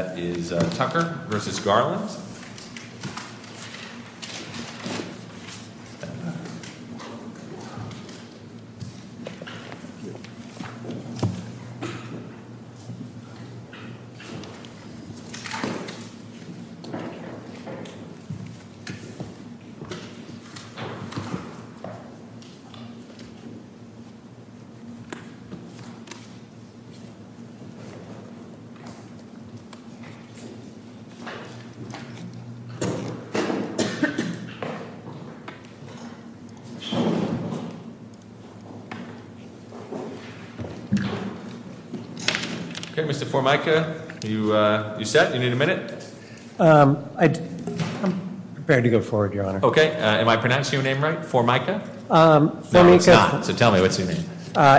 That is Tucker v. Garland. Okay, Mr Formica, you set? You need a minute? I'm prepared to go forward, Your Honor. Okay. Am I pronouncing your name right? Formica? No, it's not. So tell me, what's your name?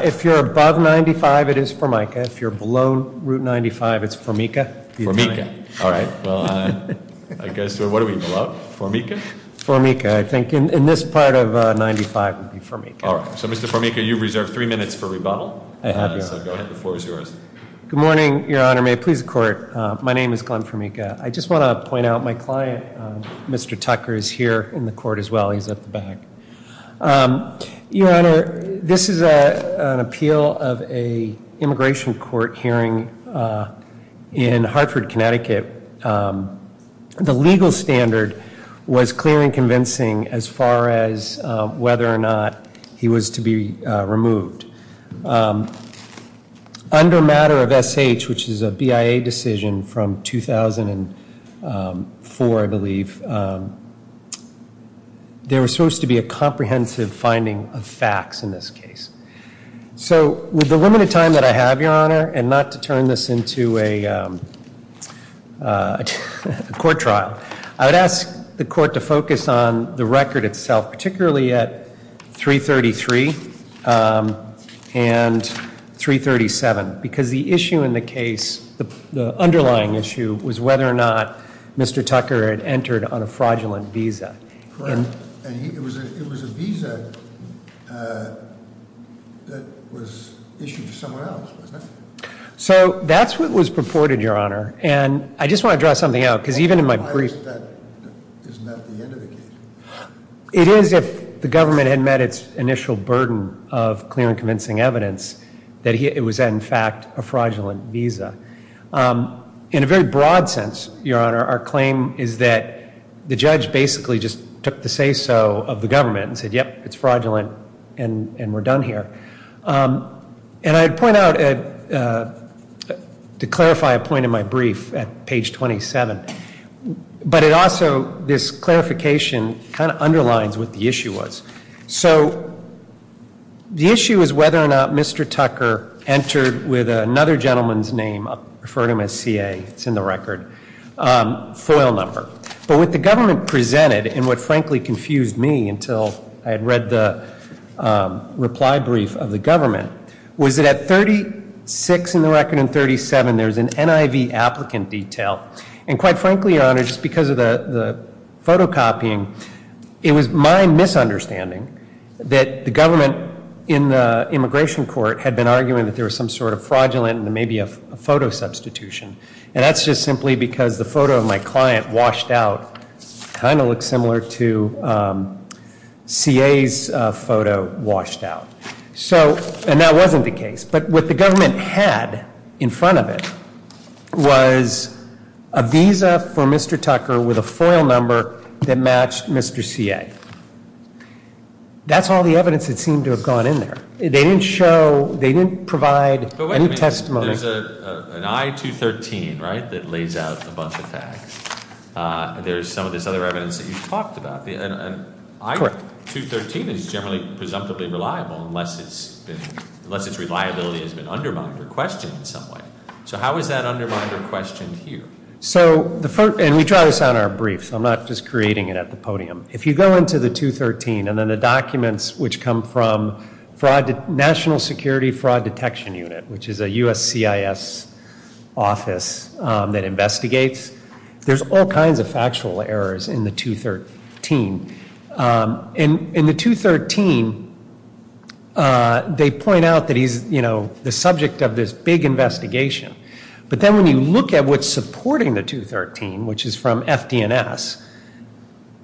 If you're above 95, it is Formica. If you're below root 95, it's Formica. Formica. All right. Well, I guess, what are we below? Formica? Formica. I think in this part of 95 would be Formica. All right. So, Mr. Formica, you've reserved three minutes for rebuttal. I have, Your Honor. So go ahead. The floor is yours. Good morning, Your Honor. May it please the Court. My name is Glenn Formica. I just want to point out my client, Mr. Tucker, is here in the Court as well. He's at the back. Your Honor, this is an appeal of an immigration court hearing in Hartford, Connecticut. The legal standard was clear and convincing as far as whether or not he was to be removed. Under matter of SH, which is a BIA decision from 2004, I believe, there was supposed to be a comprehensive finding of facts in this case. So, with the limited time that I have, Your Honor, and not to turn this into a court trial, I would ask the Court to focus on the record itself, particularly at 333 and 337, because the issue in the case, the underlying issue, was whether or not Mr. Tucker had entered on a fraudulent visa. Correct. And it was a visa that was issued to someone else, wasn't it? So that's what was purported, Your Honor. And I just want to draw something out, because even in my brief... Isn't that the end of the case? It is, if the government had met its initial burden of clear and convincing evidence that it was, in fact, a fraudulent visa. In a very broad sense, Your Honor, our claim is that the judge basically just took the say-so of the government and said, yep, it's fraudulent and we're done here. And I'd point out, to clarify a point in my brief at page 27, but it also, this clarification kind of underlines what the issue was. So, the issue is whether or not Mr. Tucker entered with another gentleman's name, I'll refer to him as CA, it's in the record, FOIL number. But what the government presented, and what frankly confused me until I had read the reply brief of the government, was that at 36 in the record and 37 there's an NIV applicant detail. And quite frankly, Your Honor, just because of the photocopying, it was my misunderstanding that the government in the immigration court had been arguing that there was some sort of fraudulent and maybe a photo substitution. And that's just simply because the photo of my client washed out kind of looks similar to CA's photo washed out. So, and that wasn't the case. But what the government had in front of it was a visa for Mr. Tucker with a FOIL number that matched Mr. CA. That's all the evidence that seemed to have gone in there. They didn't show, they didn't provide any testimony. There's an I-213, right, that lays out a bunch of facts. There's some of this other evidence that you've talked about. And I-213 is generally presumptively reliable unless its reliability has been undermined or questioned in some way. So how is that undermined or questioned here? So, and we try this on our briefs. I'm not just creating it at the podium. If you go into the 213 and then the documents which come from National Security Fraud Detection Unit, which is a U.S. CIS office that investigates, there's all kinds of factual errors in the 213. In the 213, they point out that he's, you know, the subject of this big investigation. But then when you look at what's supporting the 213, which is from FD&S,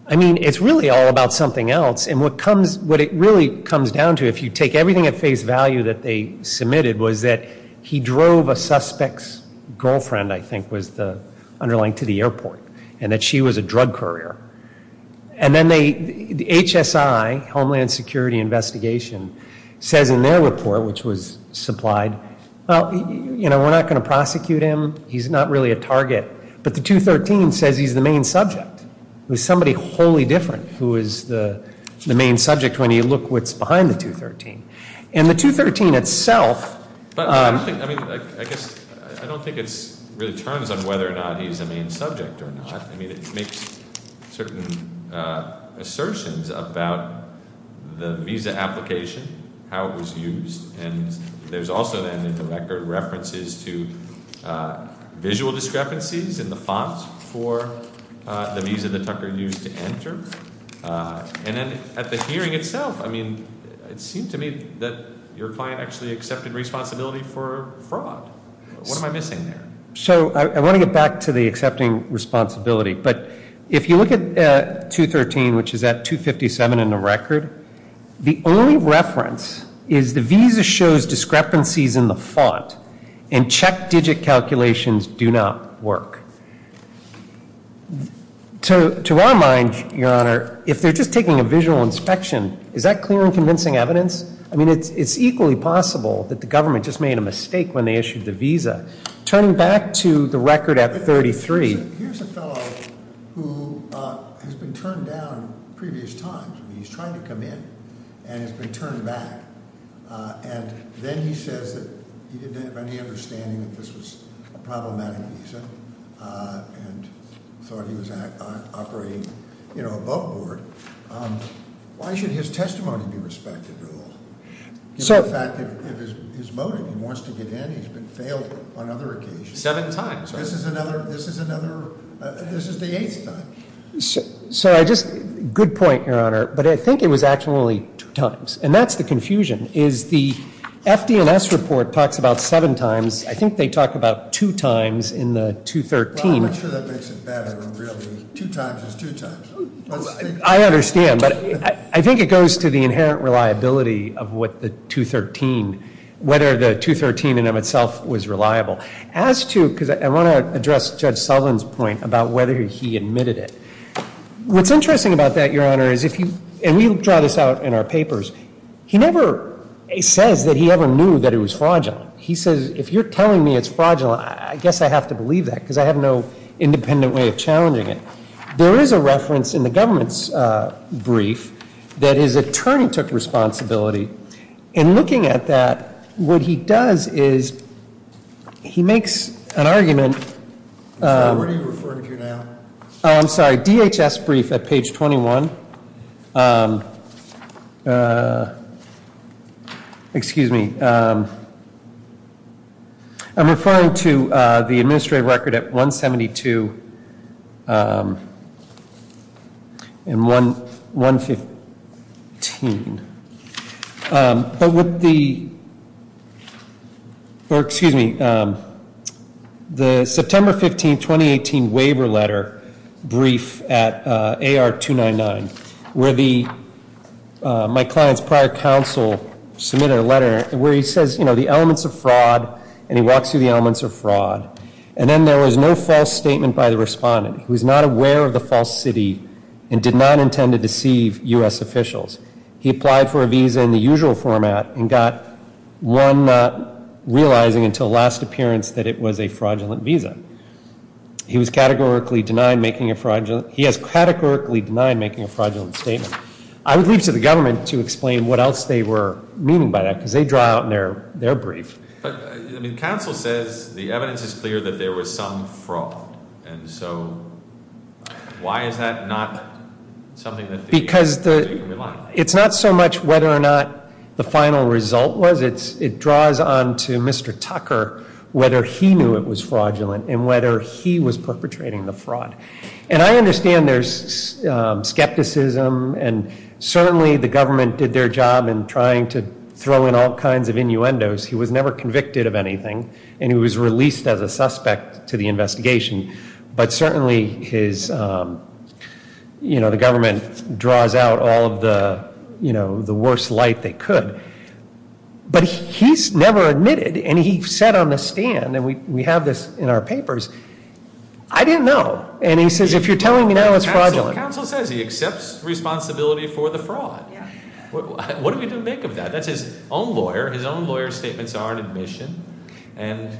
I mean, it's really all about something else. And what it really comes down to, if you take everything at face value that they submitted, was that he drove a suspect's girlfriend, I think was the underlying to the airport, and that she was a drug courier. And then they, the HSI, Homeland Security Investigation, says in their report, which was supplied, well, you know, we're not going to prosecute him. He's not really a target. But the 213 says he's the main subject. It was somebody wholly different who is the main subject when you look what's behind the 213. And the 213 itself- But I don't think, I mean, I guess, I don't think it really turns on whether or not he's the main subject or not. I mean, it makes certain assertions about the visa application, how it was used. And there's also, then, in the record, references to visual discrepancies in the font for the visa that Tucker used to enter. And then at the hearing itself, I mean, it seemed to me that your client actually accepted responsibility for fraud. What am I missing there? So I want to get back to the accepting responsibility. But if you look at 213, which is at 257 in the record, the only reference is the visa shows discrepancies in the font. And check digit calculations do not work. To our mind, Your Honor, if they're just taking a visual inspection, is that clear and convincing evidence? I mean, it's equally possible that the government just made a mistake when they issued the visa. Turning back to the record at 33- Here's a fellow who has been turned down previous times. He's trying to come in and has been turned back. And then he says that he didn't have any understanding that this was a problematic visa and thought he was operating, you know, a boatboard. Why should his testimony be respected at all? Given the fact that if his motive, he wants to get in, he's been failed on other occasions. Seven times. This is another, this is another, this is the eighth time. So I just, good point, Your Honor. But I think it was actually two times. And that's the confusion, is the FDNS report talks about seven times. I think they talk about two times in the 213. Well, I'm not sure that makes it better, really. Two times is two times. I understand. But I think it goes to the inherent reliability of what the 213, whether the 213 in and of itself was reliable. As to, because I want to address Judge Sullivan's point about whether he admitted it. What's interesting about that, Your Honor, is if you, and we draw this out in our papers, he never says that he ever knew that it was fraudulent. He says, if you're telling me it's fraudulent, I guess I have to believe that because I have no independent way of challenging it. There is a reference in the government's brief that his attorney took responsibility. In looking at that, what he does is he makes an argument. Where are you referring to now? I'm sorry, DHS brief at page 21. Excuse me. I'm referring to the administrative record at 172 and 115. But with the, or excuse me, the September 15, 2018, waiver letter brief at AR 299, where the, my client's prior counsel submitted a letter where he says, you know, the elements of fraud. And he walks through the elements of fraud. And then there was no false statement by the respondent. He was not aware of the false city and did not intend to deceive U.S. officials. He applied for a visa in the usual format and got one not realizing until last appearance that it was a fraudulent visa. He was categorically denied making a fraudulent, he is categorically denied making a fraudulent statement. I would leave to the government to explain what else they were meaning by that because they draw out in their brief. But, I mean, counsel says the evidence is clear that there was some fraud. And so why is that not something that because it's not so much whether or not the final result was. It's it draws on to Mr. Tucker, whether he knew it was fraudulent and whether he was perpetrating the fraud. And I understand there's skepticism. And certainly the government did their job in trying to throw in all kinds of innuendos. He was never convicted of anything. And he was released as a suspect to the investigation. But certainly his, you know, the government draws out all of the, you know, the worst light they could. But he's never admitted. And he said on the stand, and we have this in our papers, I didn't know. And he says if you're telling me now it's fraudulent. Counsel says he accepts responsibility for the fraud. What do we make of that? That's his own lawyer. His own lawyer's statements are in admission. And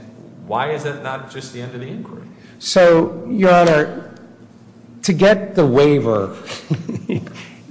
why is that not just the end of the inquiry? So, Your Honor, to get the waiver, you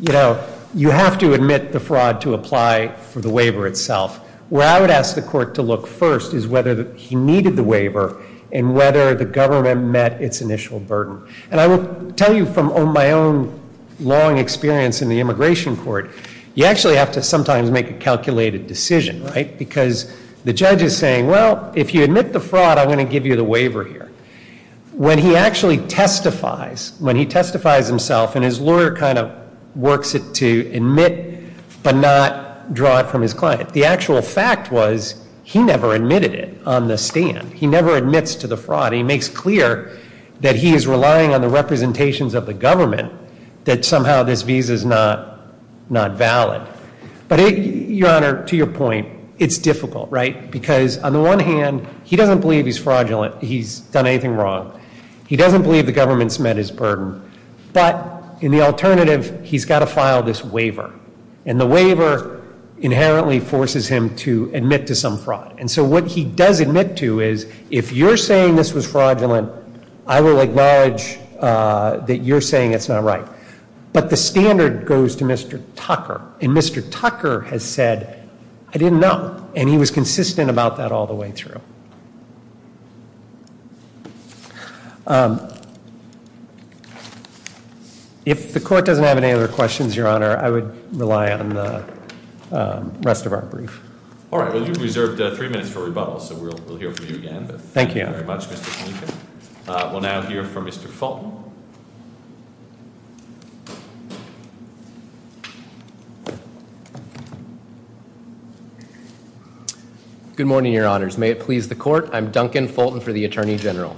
know, you have to admit the fraud to apply for the waiver itself. Where I would ask the court to look first is whether he needed the waiver and whether the government met its initial burden. And I will tell you from my own long experience in the immigration court, you actually have to sometimes make a calculated decision, right? Because the judge is saying, well, if you admit the fraud, I'm going to give you the waiver here. When he actually testifies, when he testifies himself and his lawyer kind of works it to admit but not draw it from his client, the actual fact was he never admitted it on the stand. He never admits to the fraud. He makes clear that he is relying on the representations of the government that somehow this visa is not valid. But, Your Honor, to your point, it's difficult, right? Because on the one hand, he doesn't believe he's fraudulent. He's done anything wrong. He doesn't believe the government's met his burden. But in the alternative, he's got to file this waiver. And the waiver inherently forces him to admit to some fraud. And so what he does admit to is, if you're saying this was fraudulent, I will acknowledge that you're saying it's not right. But the standard goes to Mr. Tucker. And Mr. Tucker has said, I didn't know. And he was consistent about that all the way through. If the court doesn't have any other questions, Your Honor, I would rely on the rest of our brief. All right. Well, you've reserved three minutes for rebuttal, so we'll hear from you again. Thank you. Thank you very much, Mr. Fulton. We'll now hear from Mr. Fulton. Good morning, Your Honors. May it please the court. I'm Duncan Fulton for the Attorney General.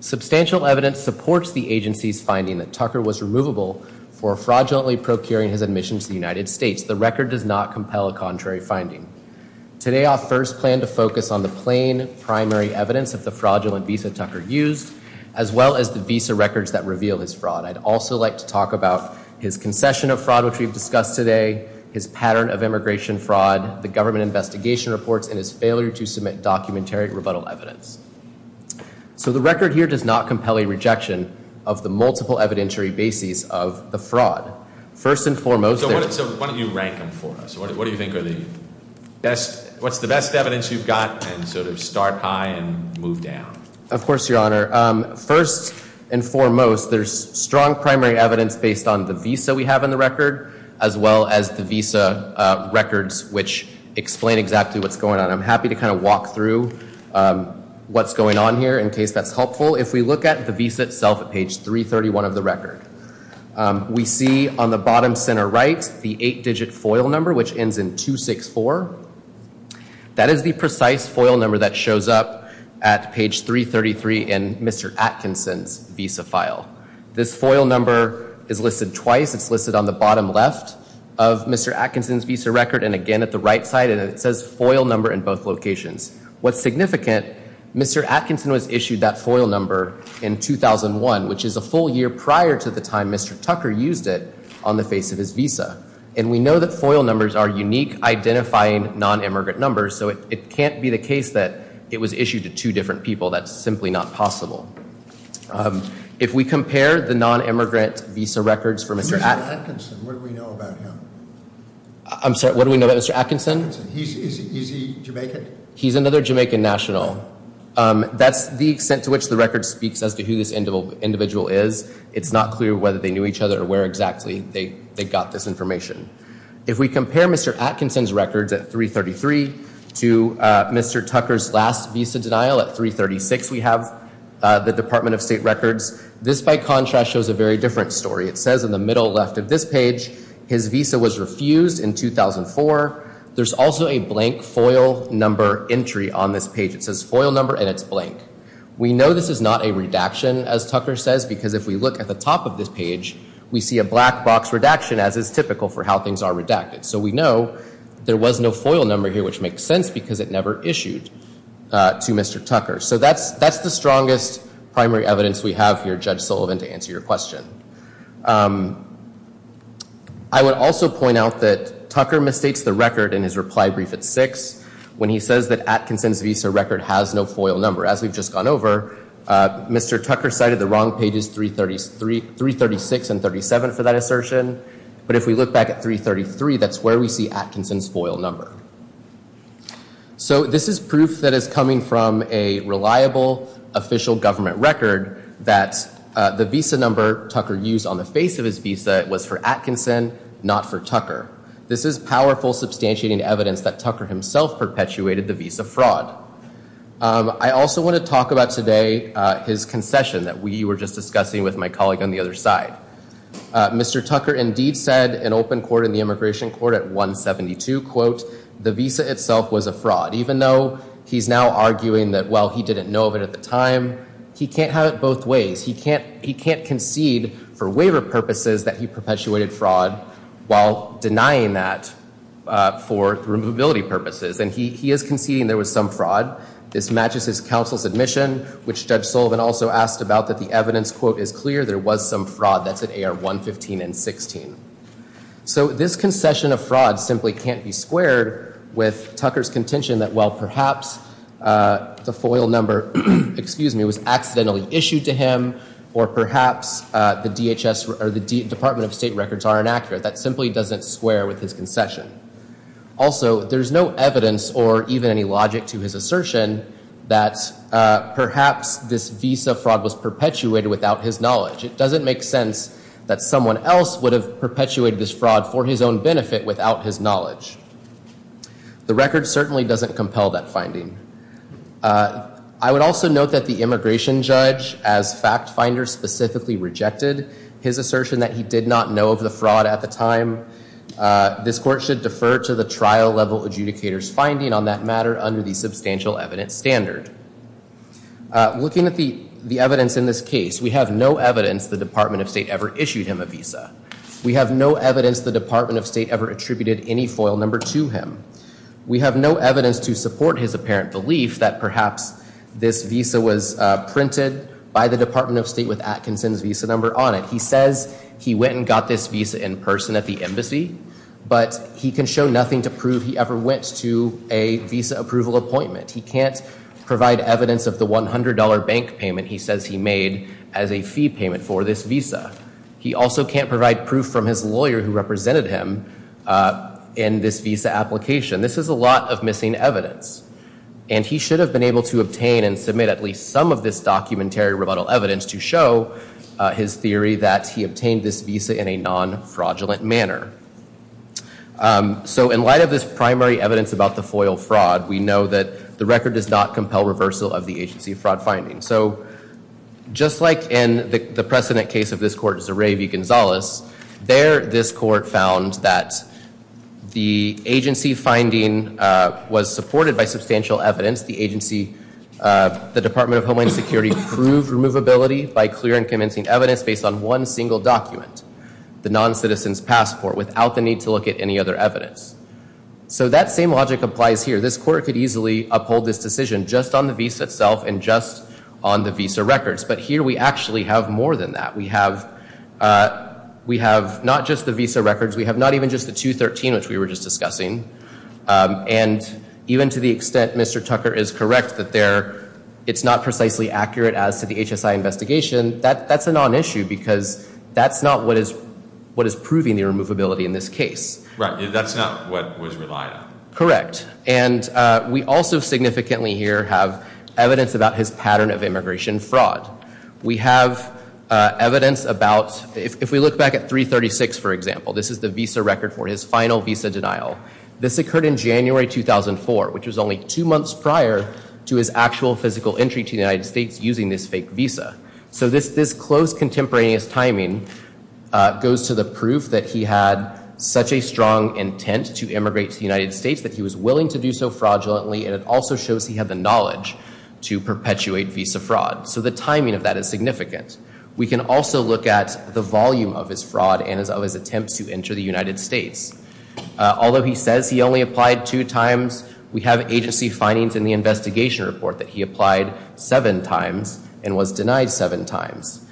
Substantial evidence supports the agency's finding that Tucker was removable for fraudulently procuring his admission to the United States. The record does not compel a contrary finding. Today I'll first plan to focus on the plain primary evidence of the fraudulent visa Tucker used, as well as the visa records that reveal his fraud. I'd also like to talk about his concession of fraud, which we've discussed today, his pattern of immigration fraud, the government investigation reports, and his failure to submit documentary rebuttal evidence. So the record here does not compel a rejection of the multiple evidentiary bases of the fraud. So why don't you rank them for us? What do you think are the best, what's the best evidence you've got, and sort of start high and move down? Of course, Your Honor. First and foremost, there's strong primary evidence based on the visa we have in the record, as well as the visa records, which explain exactly what's going on. I'm happy to kind of walk through what's going on here in case that's helpful. If we look at the visa itself at page 331 of the record. We see on the bottom center right the eight-digit FOIL number, which ends in 264. That is the precise FOIL number that shows up at page 333 in Mr. Atkinson's visa file. This FOIL number is listed twice. It's listed on the bottom left of Mr. Atkinson's visa record, and again at the right side, and it says FOIL number in both locations. What's significant, Mr. Atkinson was issued that FOIL number in 2001, which is a full year prior to the time Mr. Tucker used it on the face of his visa. And we know that FOIL numbers are unique, identifying non-immigrant numbers, so it can't be the case that it was issued to two different people. That's simply not possible. If we compare the non-immigrant visa records for Mr. Atkinson. Mr. Atkinson, what do we know about him? I'm sorry, what do we know about Mr. Atkinson? Is he Jamaican? He's another Jamaican national. That's the extent to which the record speaks as to who this individual is. It's not clear whether they knew each other or where exactly they got this information. If we compare Mr. Atkinson's records at 333 to Mr. Tucker's last visa denial at 336, we have the Department of State records. This, by contrast, shows a very different story. It says in the middle left of this page, his visa was refused in 2004. There's also a blank FOIL number entry on this page. It says FOIL number and it's blank. We know this is not a redaction, as Tucker says, because if we look at the top of this page, we see a black box redaction as is typical for how things are redacted. So we know there was no FOIL number here, which makes sense because it never issued to Mr. Tucker. So that's the strongest primary evidence we have here, Judge Sullivan, to answer your question. I would also point out that Tucker mistakes the record in his reply brief at 6 when he says that Atkinson's visa record has no FOIL number. As we've just gone over, Mr. Tucker cited the wrong pages, 336 and 37, for that assertion. But if we look back at 333, that's where we see Atkinson's FOIL number. So this is proof that is coming from a reliable official government record that the visa number Tucker used on the face of his visa was for Atkinson, not for Tucker. This is powerful, substantiating evidence that Tucker himself perpetuated the visa fraud. I also want to talk about today his concession that we were just discussing with my colleague on the other side. Mr. Tucker indeed said in open court in the immigration court at 172, quote, the visa itself was a fraud, even though he's now arguing that, well, he didn't know of it at the time. He can't have it both ways. He can't concede for waiver purposes that he perpetuated fraud while denying that for removability purposes. And he is conceding there was some fraud. This matches his counsel's admission, which Judge Sullivan also asked about, that the evidence, quote, is clear there was some fraud. That's at AR 115 and 16. So this concession of fraud simply can't be squared with Tucker's contention that, well, perhaps the FOIL number, excuse me, was accidentally issued to him, or perhaps the DHS or the Department of State records are inaccurate. That simply doesn't square with his concession. Also, there's no evidence or even any logic to his assertion that perhaps this visa fraud was perpetuated without his knowledge. It doesn't make sense that someone else would have perpetuated this fraud for his own benefit without his knowledge. The record certainly doesn't compel that finding. I would also note that the immigration judge, as fact finder, specifically rejected his assertion that he did not know of the fraud at the time. This court should defer to the trial level adjudicator's finding on that matter under the substantial evidence standard. Looking at the evidence in this case, we have no evidence the Department of State ever issued him a visa. We have no evidence the Department of State ever attributed any FOIL number to him. We have no evidence to support his apparent belief that perhaps this visa was printed by the Department of State with Atkinson's visa number on it. He says he went and got this visa in person at the embassy, but he can show nothing to prove he ever went to a visa approval appointment. He can't provide evidence of the $100 bank payment he says he made as a fee payment for this visa. He also can't provide proof from his lawyer who represented him in this visa application. This is a lot of missing evidence. And he should have been able to obtain and submit at least some of this documentary rebuttal evidence to show his theory that he obtained this visa in a non-fraudulent manner. So in light of this primary evidence about the FOIL fraud, we know that the record does not compel reversal of the agency fraud finding. So just like in the precedent case of this court, Zeray v. Gonzalez, there this court found that the agency finding was supported by substantial evidence. The Department of Homeland Security proved removability by clear and convincing evidence based on one single document, the non-citizen's passport, without the need to look at any other evidence. So that same logic applies here. This court could easily uphold this decision just on the visa itself and just on the visa records. But here we actually have more than that. We have not just the visa records. We have not even just the 213, which we were just discussing. And even to the extent Mr. Tucker is correct that it's not precisely accurate as to the HSI investigation, that's a non-issue because that's not what is proving the removability in this case. Right, that's not what was relied on. Correct. And we also significantly here have evidence about his pattern of immigration fraud. We have evidence about, if we look back at 336, for example, this is the visa record for his final visa denial. This occurred in January 2004, which was only two months prior to his actual physical entry to the United States using this fake visa. So this close contemporaneous timing goes to the proof that he had such a strong intent to immigrate to the United States that he was willing to do so fraudulently. And it also shows he had the knowledge to perpetuate visa fraud. So the timing of that is significant. We can also look at the volume of his fraud and of his attempts to enter the United States. Although he says he only applied two times, we have agency findings in the investigation report that he applied seven times and was denied seven times.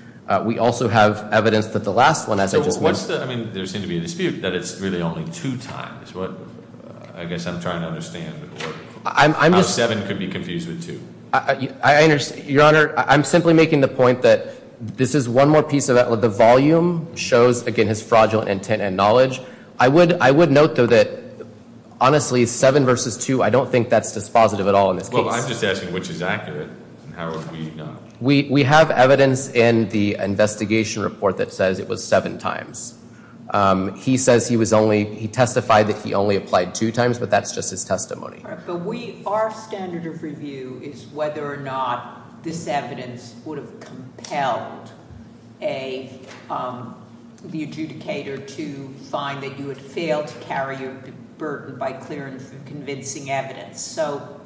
We also have evidence that the last one, as I just mentioned- I mean, there seemed to be a dispute that it's really only two times. I guess I'm trying to understand how seven could be confused with two. Your Honor, I'm simply making the point that this is one more piece of that. The volume shows, again, his fraudulent intent and knowledge. I would note, though, that, honestly, seven versus two, I don't think that's dispositive at all in this case. Well, I'm just asking which is accurate and how would we know? We have evidence in the investigation report that says it was seven times. He says he testified that he only applied two times, but that's just his testimony. Our standard of review is whether or not this evidence would have compelled the adjudicator to find that you had failed to carry your burden by clear and convincing evidence. So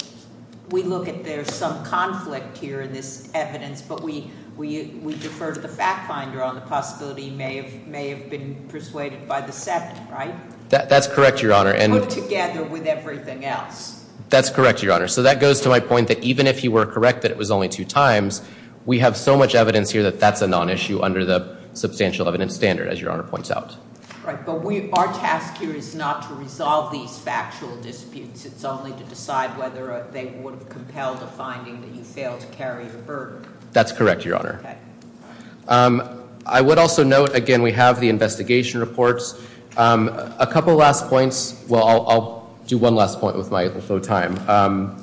we look at there's some conflict here in this evidence, but we defer to the fact finder on the possibility he may have been persuaded by the seven, right? That's correct, Your Honor. Put together with everything else. That's correct, Your Honor. So that goes to my point that even if he were correct that it was only two times, we have so much evidence here that that's a non-issue under the substantial evidence standard, as Your Honor points out. Right, but our task here is not to resolve these factual disputes. It's only to decide whether they would have compelled the finding that he failed to carry the burden. That's correct, Your Honor. Okay. I would also note, again, we have the investigation reports. A couple last points. Well, I'll do one last point with my little time.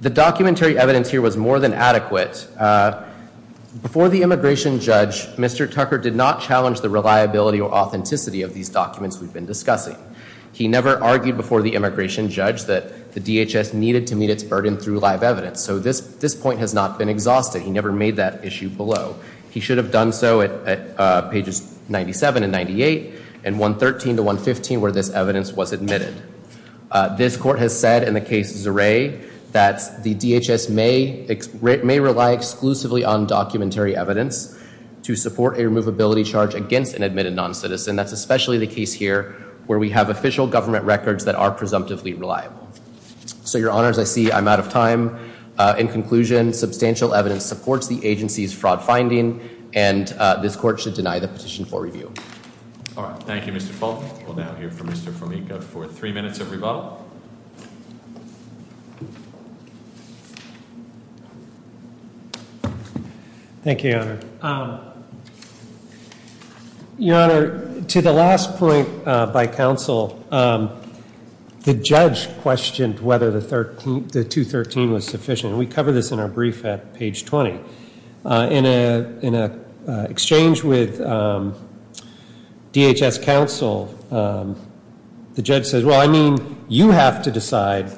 The documentary evidence here was more than adequate. Before the immigration judge, Mr. Tucker did not challenge the reliability or authenticity of these documents we've been discussing. He never argued before the immigration judge that the DHS needed to meet its burden through live evidence. So this point has not been exhausted. He never made that issue below. He should have done so at pages 97 and 98 and 113 to 115 where this evidence was admitted. This court has said in the case Zeray that the DHS may rely exclusively on documentary evidence to support a removability charge against an admitted non-citizen. That's especially the case here where we have official government records that are presumptively reliable. So, Your Honor, as I see, I'm out of time. In conclusion, substantial evidence supports the agency's fraud finding, and this court should deny the petition for review. All right. Thank you, Mr. Fulton. We'll now hear from Mr. Formica for three minutes of rebuttal. Thank you, Your Honor. Your Honor, to the last point by counsel, the judge questioned whether the 213 was sufficient. We cover this in our brief at page 20. In an exchange with DHS counsel, the judge says, well, I mean, you have to decide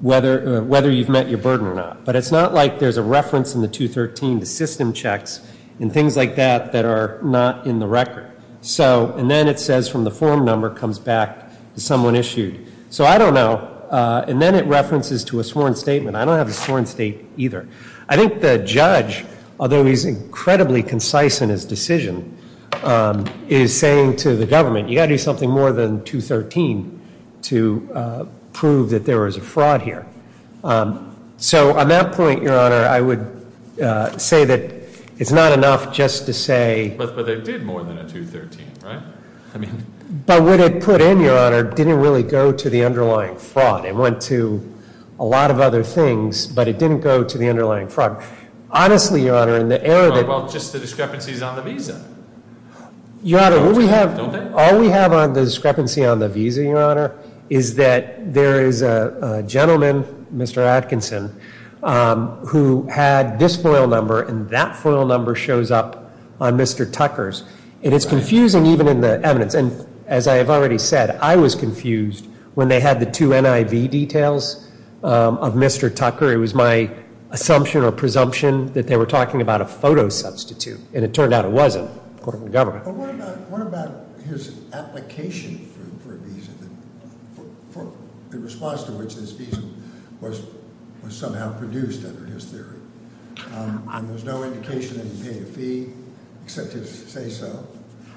whether you've met your burden or not. But it's not like there's a reference in the 213 to system checks and things like that that are not in the record. And then it says from the form number comes back to someone issued. So I don't know. And then it references to a sworn statement. I don't have a sworn statement either. I think the judge, although he's incredibly concise in his decision, is saying to the government, you've got to do something more than 213 to prove that there was a fraud here. So on that point, Your Honor, I would say that it's not enough just to say. But they did more than a 213, right? I mean. But what it put in, Your Honor, didn't really go to the underlying fraud. It went to a lot of other things, but it didn't go to the underlying fraud. Honestly, Your Honor, in the era that. Well, just the discrepancies on the visa. Your Honor, what we have. Don't they? All we have on the discrepancy on the visa, Your Honor, is that there is a gentleman, Mr. Atkinson, who had this FOIL number and that FOIL number shows up on Mr. Tucker's. And it's confusing even in the evidence. And as I have already said, I was confused when they had the two NIV details of Mr. Tucker. It was my assumption or presumption that they were talking about a photo substitute. And it turned out it wasn't, according to the government. But what about his application for a visa in response to which this visa was somehow produced under his theory? And there's no indication that he paid a fee except to say so.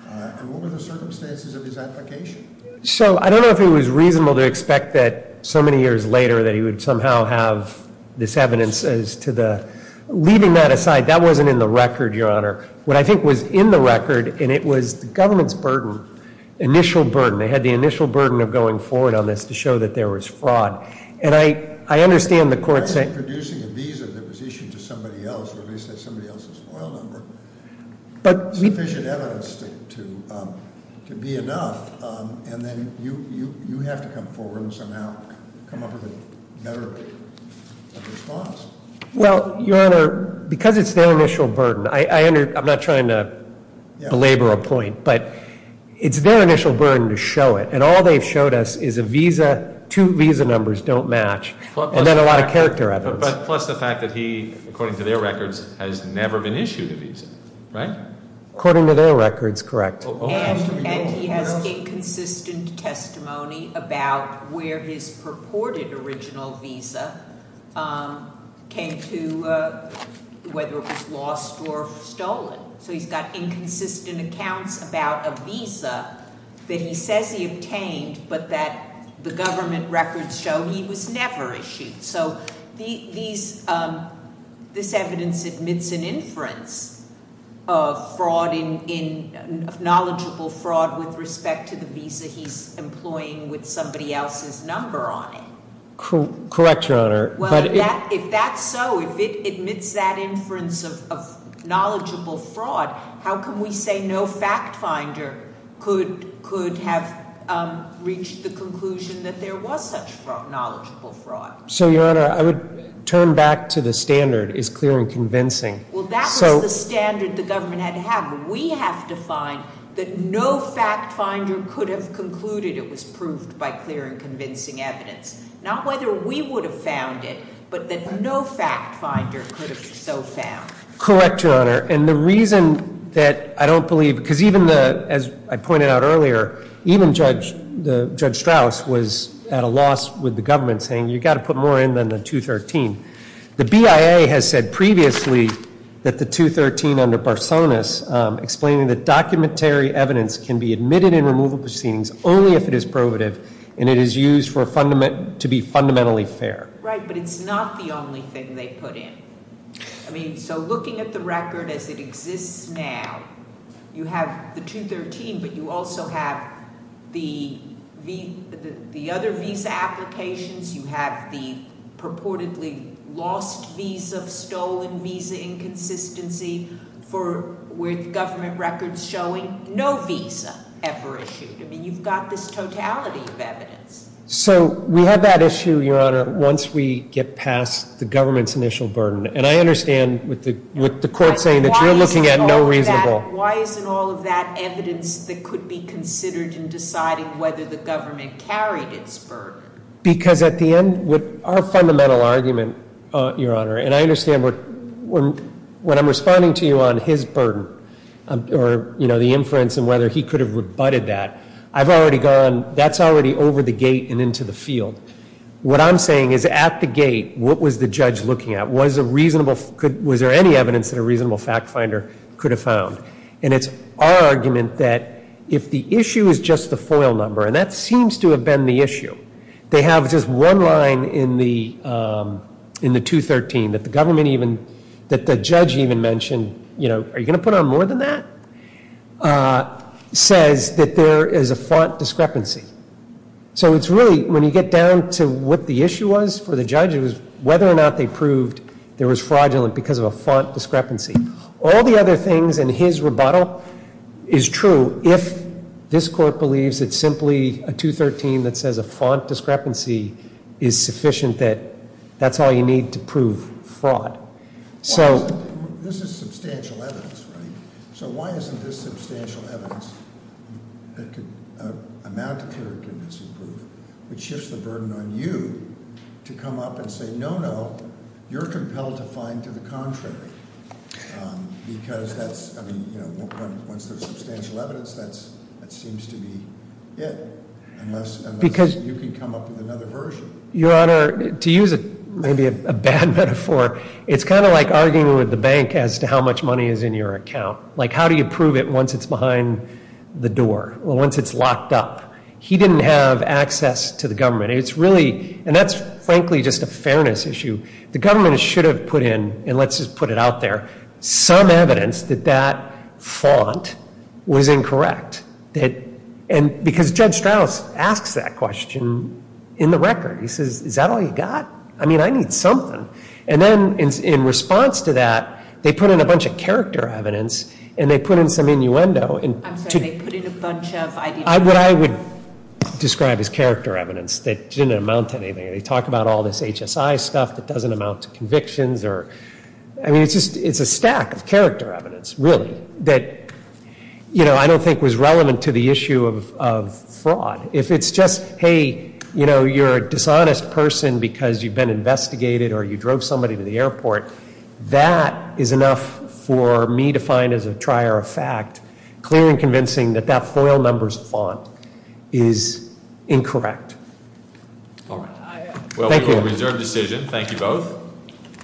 And what were the circumstances of his application? So I don't know if it was reasonable to expect that so many years later that he would somehow have this evidence as to the... Leaving that aside, that wasn't in the record, Your Honor. What I think was in the record, and it was the government's burden, initial burden. They had the initial burden of going forward on this to show that there was fraud. And I understand the court saying... I wasn't producing a visa that was issued to somebody else or at least had somebody else's FOIL number. But we... Sufficient evidence to be enough. And then you have to come forward and somehow come up with a better response. Well, Your Honor, because it's their initial burden, I'm not trying to belabor a point. But it's their initial burden to show it. And all they've showed us is a visa, two visa numbers don't match, and then a lot of character evidence. Plus the fact that he, according to their records, has never been issued a visa, right? According to their records, correct. And he has inconsistent testimony about where his purported original visa came to, whether it was lost or stolen. So he's got inconsistent accounts about a visa that he says he obtained, but that the government records show he was never issued. So this evidence admits an inference of fraud in... of knowledgeable fraud with respect to the visa he's employing with somebody else's number on it. Correct, Your Honor. Well, if that's so, if it admits that inference of knowledgeable fraud, how can we say no fact finder could have reached the conclusion that there was such knowledgeable fraud? So, Your Honor, I would turn back to the standard, is clear and convincing. Well, that was the standard the government had to have. We have to find that no fact finder could have concluded it was proved by clear and convincing evidence. Not whether we would have found it, but that no fact finder could have so found. Correct, Your Honor. And the reason that I don't believe... because even the... as I pointed out earlier, even Judge Strauss was at a loss with the government saying you've got to put more in than the 213. The BIA has said previously that the 213 under Barsonas explaining that documentary evidence can be admitted in removal proceedings only if it is probative and it is used to be fundamentally fair. Right, but it's not the only thing they put in. I mean, so looking at the record as it exists now, you have the 213, but you also have the other visa applications. You have the purportedly lost visa, stolen visa inconsistency for... with government records showing no visa ever issued. I mean, you've got this totality of evidence. So we have that issue, Your Honor, once we get past the government's initial burden. And I understand with the court saying that you're looking at no reasonable... Why isn't all of that evidence that could be considered in deciding whether the government carried its burden? Because at the end, with our fundamental argument, Your Honor, and I understand when I'm responding to you on his burden or, you know, the inference and whether he could have rebutted that, I've already gone... that's already over the gate and into the field. What I'm saying is at the gate, what was the judge looking at? Was there any evidence that a reasonable fact finder could have found? And it's our argument that if the issue is just the FOIL number, and that seems to have been the issue, they have just one line in the 213 that the government even... that the judge even mentioned, you know, are you going to put on more than that, says that there is a font discrepancy. So it's really, when you get down to what the issue was for the judge, it was whether or not they proved there was fraudulent because of a font discrepancy. All the other things in his rebuttal is true if this court believes it's simply a 213 that says a font discrepancy is sufficient that that's all you need to prove fraud. So... This is substantial evidence, right? So why isn't this substantial evidence that could amount to clearly convincing proof, which shifts the burden on you to come up and say, no, no, you're compelled to find to the contrary. Because that's, I mean, you know, once there's substantial evidence, that seems to be it. Unless... Because... You can come up with another version. Your Honor, to use maybe a bad metaphor, it's kind of like arguing with the bank as to how much money is in your account. Like how do you prove it once it's behind the door or once it's locked up? He didn't have access to the government. It's really, and that's frankly just a fairness issue. The government should have put in, and let's just put it out there, some evidence that that font was incorrect. Because Judge Strauss asks that question in the record. He says, is that all you got? I mean, I need something. And then in response to that, they put in a bunch of character evidence and they put in some innuendo. I'm sorry, they put in a bunch of... What I would describe as character evidence that didn't amount to anything. They talk about all this HSI stuff that doesn't amount to convictions or... I mean, it's a stack of character evidence, really, that I don't think was relevant to the issue of fraud. If it's just, hey, you're a dishonest person because you've been investigated or you drove somebody to the airport, that is enough for me to find as a trier of fact, clear and convincing, that that FOIL numbers font is incorrect. All right. Thank you. Well, we will reserve decision. Thank you both.